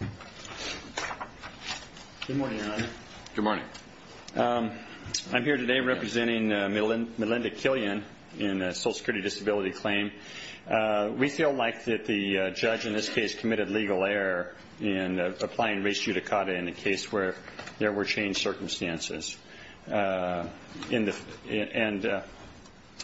Ed Smith Good morning, Your Honor. Ed Smith Good morning. Ed Smith I'm here today representing Milinda Killian in the Social Security Disability claim. We feel like the judge, in this case, committed legal error in applying res judicata in the case where there were changed circumstances. And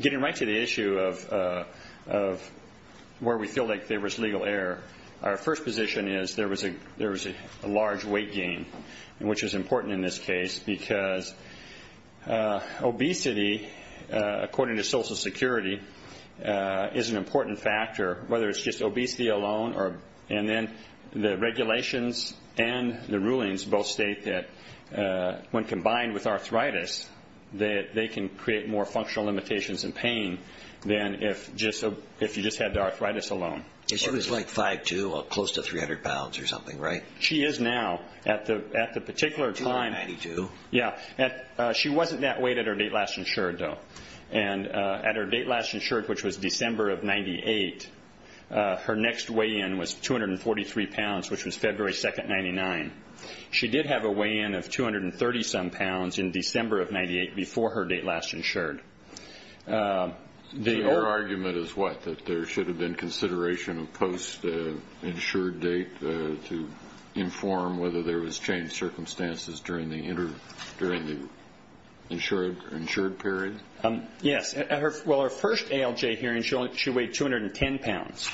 getting right to the issue of where we feel like there was legal error, our first position is there was a large weight gain, which is important in this case, because obesity, according to Social Security, is an important factor, whether it's just obesity alone. And then the regulations and the rulings both state that when combined with arthritis, they can create more functional limitations and pain than if you just had the arthritis alone. She was like 5'2", close to 300 pounds or something, right? She is now. At the particular time. 292. Yeah. She wasn't that weight at her date last insured, though. And at her date last insured, which was December of 1998, her next weigh-in was 243 pounds, which was February 2, 1999. She did have a weigh-in of 230-some pounds in December of 1998 before her date last insured. So your argument is what? That there should have been consideration of post-insured date to inform whether there was changed circumstances during the insured period? Yes. At her first ALJ hearing, she weighed 210 pounds.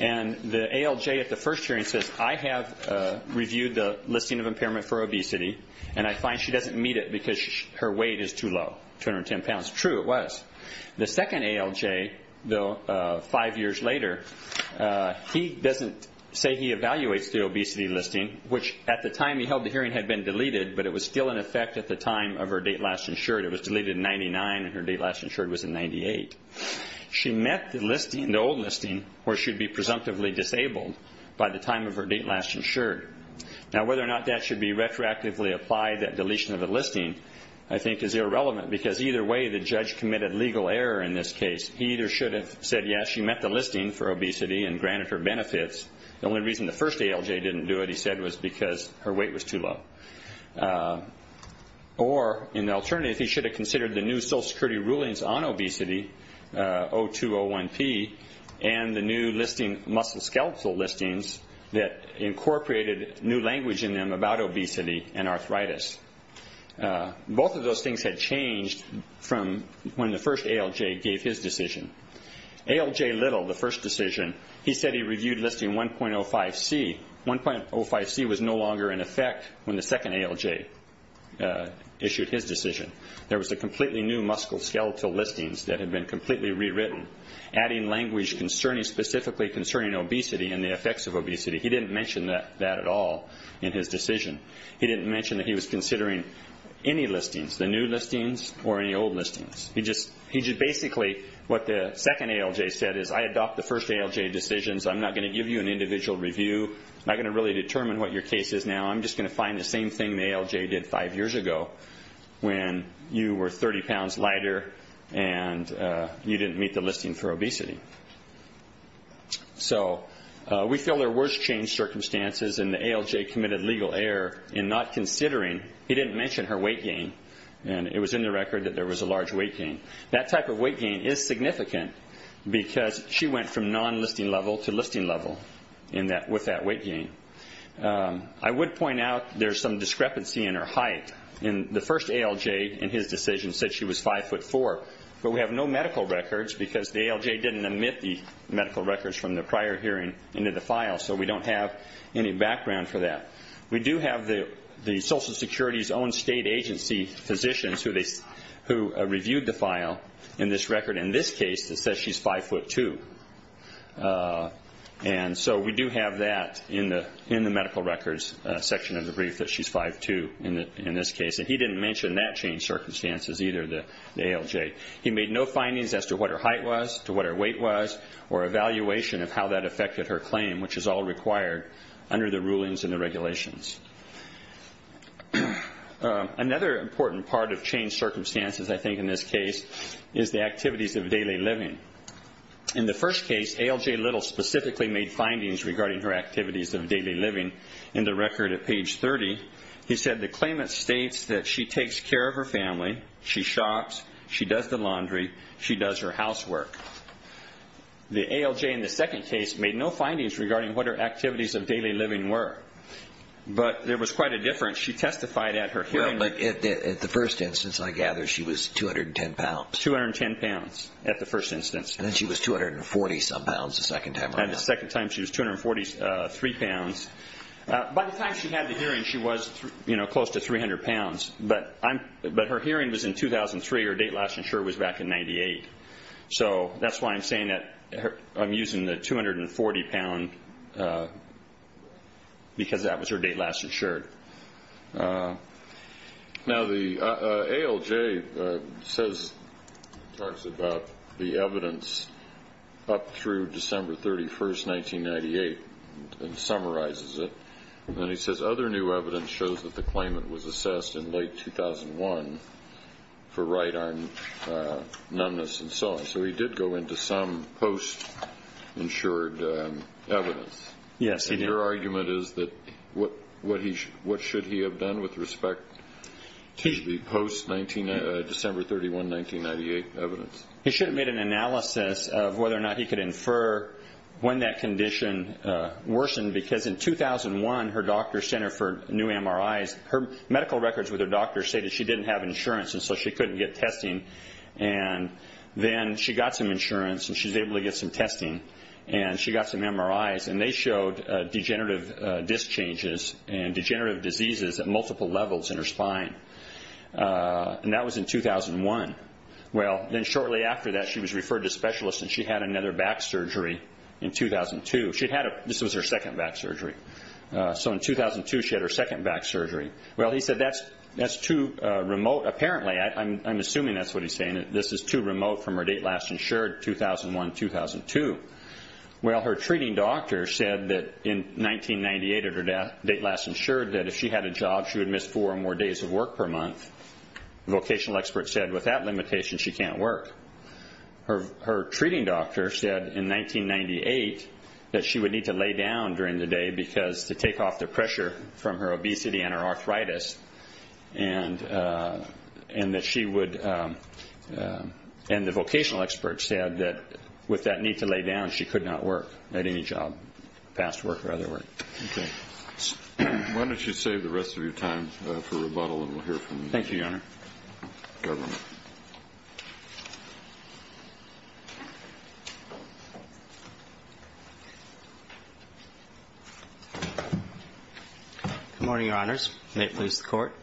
And the ALJ at the first hearing says, I have reviewed the listing of impairment for obesity, and I find she doesn't meet it because her weight is too low, 210 pounds. True, it was. The second ALJ, though, five years later, he doesn't say he evaluates the obesity listing, which at the time he held the hearing had been deleted, but it was still in effect at the time of her date last insured. It was deleted in 1999, and her date last insured was in 1998. She met the listing, the old listing, where she would be presumptively disabled by the time of her date last insured. Now, whether or not that should be retroactively applied, that deletion of the listing, I think is irrelevant, because either way the judge committed legal error in this case. He either should have said, yes, she met the listing for obesity and granted her benefits. The only reason the first ALJ didn't do it, he said, was because her weight was too low. Or, in the alternative, he should have considered the new Social Security rulings on obesity, 0201P, and the new listing, muscle skeletal listings, that incorporated new language in them about obesity and arthritis. Both of those things had changed from when the first ALJ gave his decision. ALJ Little, the first decision, he said he reviewed listing 1.05C. 1.05C was no longer in effect when the second ALJ issued his decision. There was a completely new muscle skeletal listings that had been completely rewritten, adding language specifically concerning obesity and the effects of obesity. He didn't mention that at all in his decision. He didn't mention that he was considering any listings, the new listings or any old listings. He just basically, what the second ALJ said is, I adopt the first ALJ decisions. I'm not going to give you an individual review. I'm not going to really determine what your case is now. I'm just going to find the same thing the ALJ did five years ago when you were 30 pounds lighter and you didn't meet the listing for obesity. We feel there was change circumstances in the ALJ committed legal error in not considering. He didn't mention her weight gain. It was in the record that there was a large weight gain. That type of weight gain is significant because she went from non-listing level to listing level with that weight gain. I would point out there's some discrepancy in her height. The first ALJ in his decision said she was 5'4", but we have no medical records because the ALJ didn't omit the medical records from the prior hearing into the file, so we don't have any background for that. We do have the Social Security's own state agency physicians who reviewed the file in this record. In this case, it says she's 5'2". We do have that in the medical records section of the brief, that she's 5'2". He didn't mention that change circumstances either, the ALJ. He made no findings as to what her height was, to what her weight was, or evaluation of how that affected her claim, which is all required under the rulings and the regulations. Another important part of change circumstances, I think in this case, is the activities of daily living. In the first case, ALJ Little specifically made findings regarding her activities of daily living. In the record at page 30, he said the claimant states that she takes care of her family, she shops, she does the laundry, she does her housework. The ALJ in the second case made no findings regarding what her activities of daily living were, but there was quite a difference. She testified at her hearing. At the first instance, I gather she was 210 pounds. 210 pounds at the first instance. And then she was 240-some pounds the second time around. The second time, she was 243 pounds. By the time she had the hearing, she was close to 300 pounds. But her hearing was in 2003. Her date last insured was back in 1998. So that's why I'm saying that I'm using the 240 pound because that was her date last insured. Now the ALJ talks about the evidence up through December 31, 1998, and summarizes it. And then he says other new evidence shows that the claimant was assessed in late 2001 for right-arm numbness and so on. So he did go into some post-insured evidence. Yes, he did. Your argument is that what should he have done with respect to the post-December 31, 1998 evidence? He should have made an analysis of whether or not he could infer when that condition worsened because in 2001, her doctor sent her for new MRIs. Her medical records with her doctor stated she didn't have insurance, and so she couldn't get testing. And then she got some insurance, and she was able to get some testing. And she got some MRIs. And they showed degenerative disc changes and degenerative diseases at multiple levels in her spine. And that was in 2001. Well, then shortly after that, she was referred to specialists, and she had another back surgery in 2002. This was her second back surgery. So in 2002, she had her second back surgery. Well, he said that's too remote. Apparently, I'm assuming that's what he's saying, that this is too remote from her date last insured, 2001-2002. Well, her treating doctor said that in 1998 at her date last insured that if she had a job, she would miss four or more days of work per month. The vocational expert said with that limitation, she can't work. Her treating doctor said in 1998 that she would need to lay down during the day because to take off the pressure from her obesity and her arthritis, and that she would, and the vocational expert said that with that need to lay down, she could not work at any job, past work or other work. Okay. Why don't you save the rest of your time for rebuttal, and we'll hear from the government. Thank you, Your Honor. Good morning, Your Honors. May it please the Court.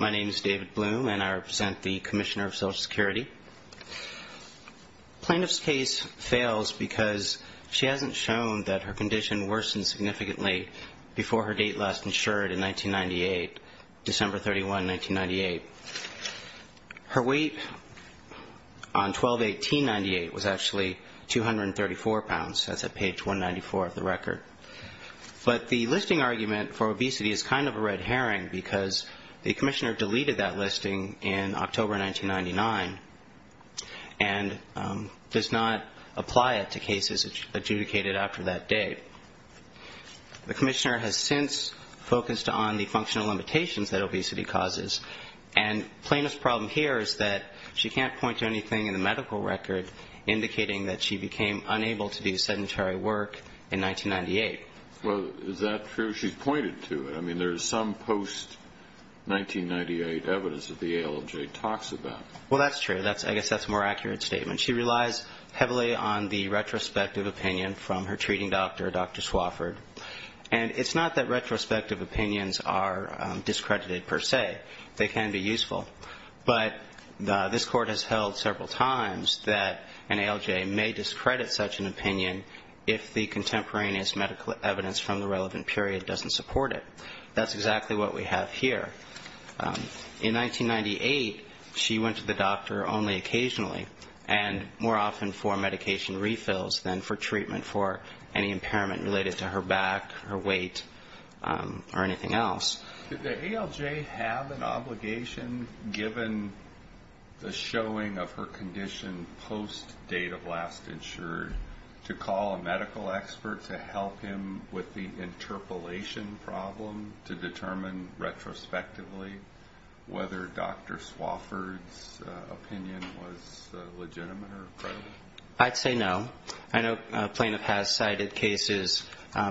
My name is David Bloom, and I represent the Commissioner of Social Security. Plaintiff's case fails because she hasn't shown that her condition worsened significantly before her date last insured in 1998, December 31, 1998. Her weight on 12-18-98 was actually 234 pounds. That's at page 194 of the record. But the listing argument for obesity is kind of a red herring because the commissioner deleted that listing in October 1999 and does not apply it to cases adjudicated after that date. The commissioner has since focused on the functional limitations that obesity causes, and plaintiff's problem here is that she can't point to anything in the medical record indicating that she became unable to do sedentary work in 1998. Well, is that true? She's pointed to it. I mean, there's some post-1998 evidence that the ALJ talks about. Well, that's true. I guess that's a more accurate statement. She relies heavily on the retrospective opinion from her treating doctor, Dr. Swofford. And it's not that retrospective opinions are discredited per se. They can be useful. But this Court has held several times that an ALJ may discredit such an opinion if the contemporaneous medical evidence from the relevant period doesn't support it. That's exactly what we have here. In 1998, she went to the doctor only occasionally, and more often for medication refills than for treatment for any impairment related to her back, her weight, or anything else. Did the ALJ have an obligation, given the showing of her condition post-date of last insured, to call a medical expert to help him with the interpolation problem to determine retrospectively whether Dr. Swofford's opinion was legitimate or credible? I'd say no. I know a plaintiff has cited cases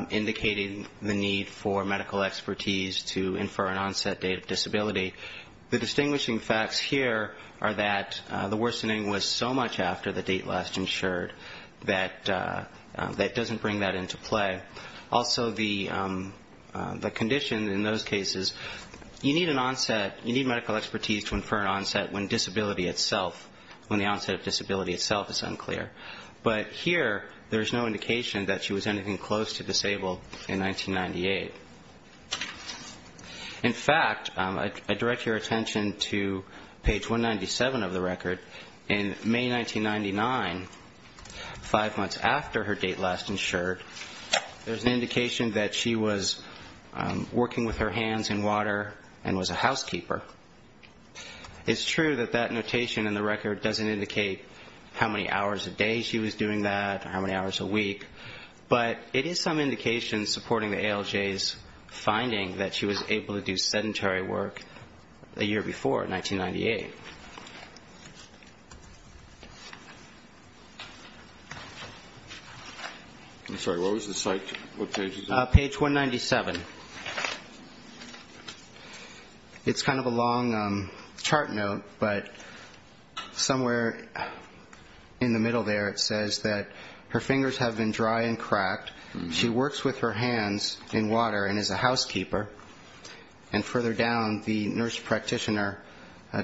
indicating the need for medical expertise to infer an onset date of disability. The distinguishing facts here are that the worsening was so much after the date last insured that it doesn't bring that into play. Also, the condition in those cases, you need an onset, you need medical expertise to infer an onset when disability itself, when the onset of disability itself is unclear. But here, there's no indication that she was anything close to disabled in 1998. In fact, I direct your attention to page 197 of the record. In May 1999, five months after her date last insured, there's an indication that she was working with her hands in water and was a housekeeper. It's true that that notation in the record doesn't indicate how many hours a day she was doing that or how many hours a week, but it is some indication supporting the ALJ's finding that she was able to do sedentary work the year before, 1998. I'm sorry. What was the site? What page is that? Page 197. It's kind of a long chart note, but somewhere in the middle there it says that her fingers have been dry and cracked. She works with her hands in water and is a housekeeper. And further down, the nurse practitioner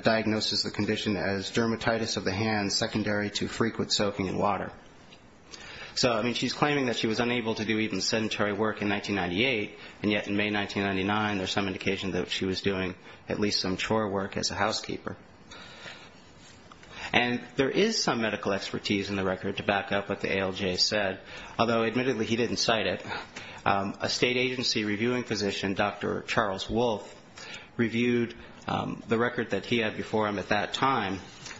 diagnoses the condition as dermatitis of the hands, secondary to frequent soaking in water. So, I mean, she's claiming that she was unable to do even sedentary work in 1998, and yet in May 1999 there's some indication that she was doing at least some chore work as a housekeeper. And there is some medical expertise in the record to back up what the ALJ said, although admittedly he didn't cite it. A state agency reviewing physician, Dr. Charles Wolfe, reviewed the record that he had before him at that time,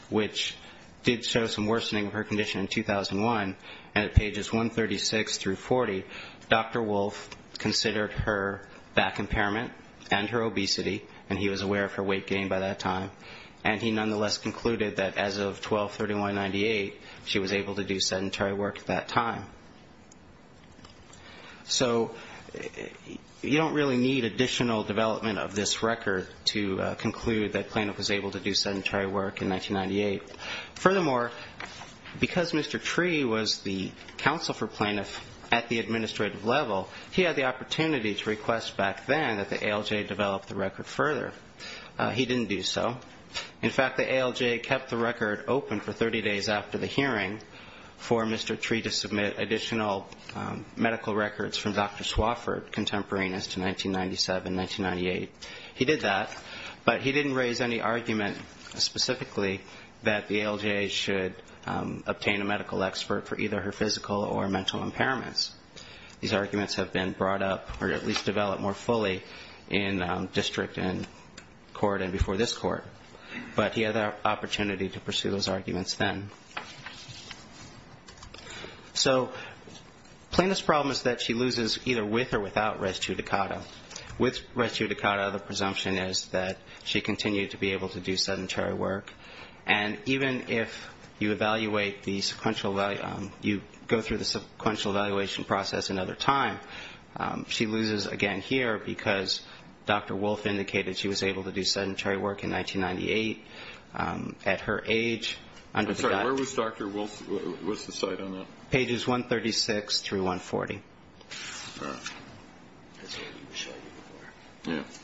which did show some worsening of her condition in 2001, and at pages 136 through 40, Dr. Wolfe considered her back impairment and her obesity, and he was aware of her weight gain by that time, and he nonetheless concluded that as of 12-31-98 she was able to do sedentary work at that time. So you don't really need additional development of this record to conclude that Plaintiff was able to do sedentary work in 1998. Furthermore, because Mr. Tree was the counsel for Plaintiff at the administrative level, he had the opportunity to request back then that the ALJ develop the record further. He didn't do so. In fact, the ALJ kept the record open for 30 days after the hearing for Mr. Tree to submit additional medical records from Dr. Swofford, contemporaneous to 1997-1998. He did that, but he didn't raise any argument specifically that the ALJ should obtain a medical expert for either her physical or mental impairments. These arguments have been brought up or at least developed more fully in district and court and before this court, but he had the opportunity to pursue those arguments then. So Plaintiff's problem is that she loses either with or without res judicata. With res judicata, the presumption is that she continued to be able to do sedentary work. And even if you evaluate the sequential you go through the sequential evaluation process another time, she loses again here because Dr. Wolfe indicated she was able to do sedentary work in 1998 at her age. I'm sorry, where was Dr. Wolfe? What's the site on that? Pages 136 through 140.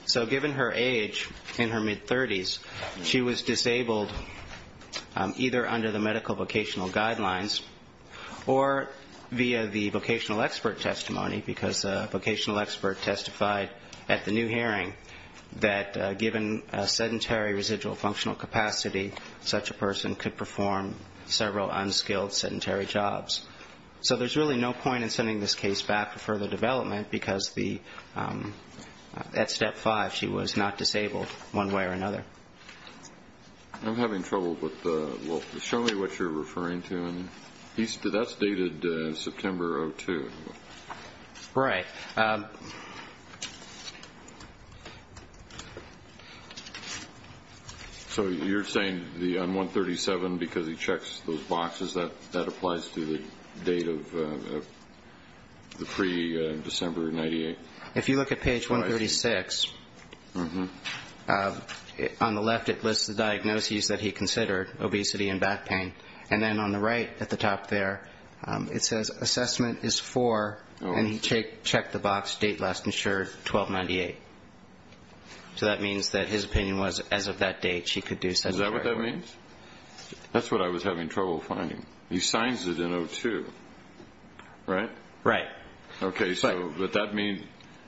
So given her age in her mid-30s, she was disabled either under the medical vocational guidelines or via the vocational expert testimony because a vocational expert testified at the new hearing that given a sedentary residual functional capacity, such a person could perform several unskilled sedentary jobs. So there's really no point in sending this case back for further development because at step five she was not disabled one way or another. I'm having trouble with the – well, show me what you're referring to. That's dated September of 2002. Right. So you're saying on 137 because he checks those boxes, that applies to the date of the pre-December of 98? If you look at page 136, on the left it lists the diagnoses that he considered, obesity and back pain, and then on the right at the top there it says assessment is for, and he checked the box, date last insured, 12-98. So that means that his opinion was as of that date she could do sedentary work. Is that what that means? That's what I was having trouble finding. He signs it in 02, right? Right. Okay, so does that mean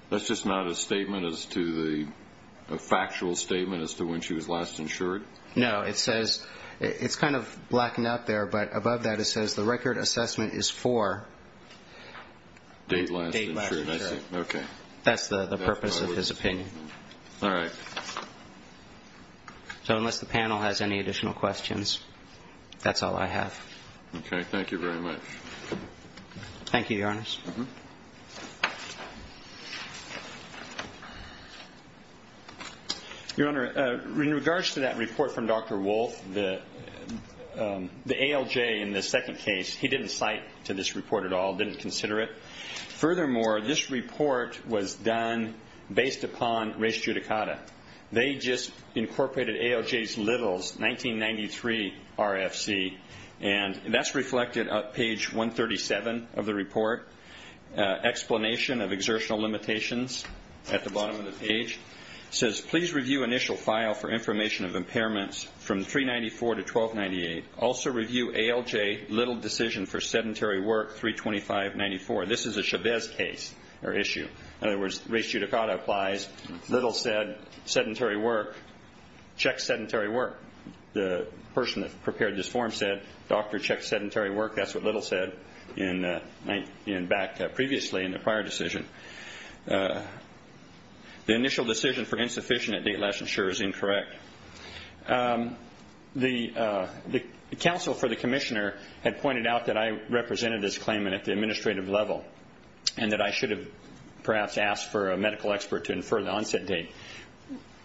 that's just not a statement as to the – a factual statement as to when she was last insured? No. It says – it's kind of blackened out there, but above that it says the record assessment is for date last insured. Date last insured. Okay. That's the purpose of his opinion. All right. So unless the panel has any additional questions, that's all I have. Okay. Thank you very much. Thank you, Your Honor. Any other questions? Your Honor, in regards to that report from Dr. Wolfe, the ALJ in the second case, he didn't cite to this report at all, didn't consider it. Furthermore, this report was done based upon res judicata. They just incorporated ALJ's Littles' 1993 RFC, and that's reflected on page 137 of the report. Explanation of exertional limitations at the bottom of the page says, please review initial file for information of impairments from 394 to 1298. Also review ALJ Littles' decision for sedentary work 325-94. This is a Chavez case or issue. In other words, res judicata applies. Littles said, sedentary work, check sedentary work. The person that prepared this form said, doctor, check sedentary work. That's what Littles said back previously in the prior decision. The initial decision for insufficient at date last insured is incorrect. The counsel for the commissioner had pointed out that I represented this claimant at the administrative level and that I should have perhaps asked for a medical expert to infer the onset date.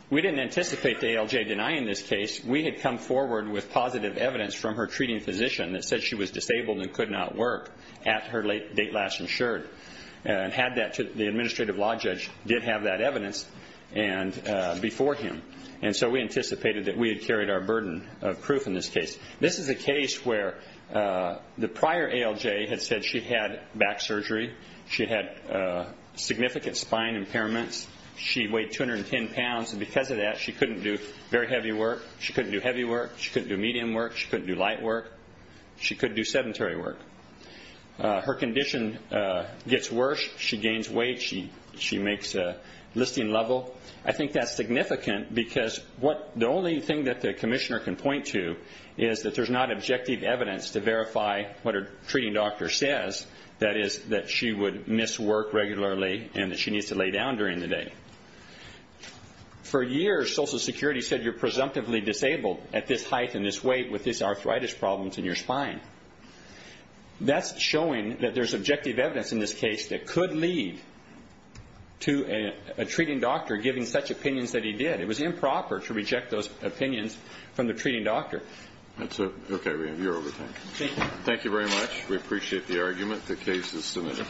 We didn't anticipate the ALJ denying this case. We had come forward with positive evidence from her treating physician that said she was disabled and could not work at her date last insured. The administrative law judge did have that evidence before him, and so we anticipated that we had carried our burden of proof in this case. This is a case where the prior ALJ had said she had back surgery. She had significant spine impairments. She weighed 210 pounds, and because of that, she couldn't do very heavy work. She couldn't do heavy work. She couldn't do medium work. She couldn't do light work. She couldn't do sedentary work. Her condition gets worse. She gains weight. She makes a listing level. I think that's significant because the only thing that the commissioner can point to is that there's not objective evidence to verify what her treating doctor says, that is that she would miss work regularly and that she needs to lay down during the day. For years, Social Security said you're presumptively disabled at this height and this weight with these arthritis problems in your spine. That's showing that there's objective evidence in this case that could lead to a treating doctor giving such opinions that he did. It was improper to reject those opinions from the treating doctor. That's it. Okay, we have your overtime. Thank you. Thank you very much. We appreciate the argument. The case is submitted.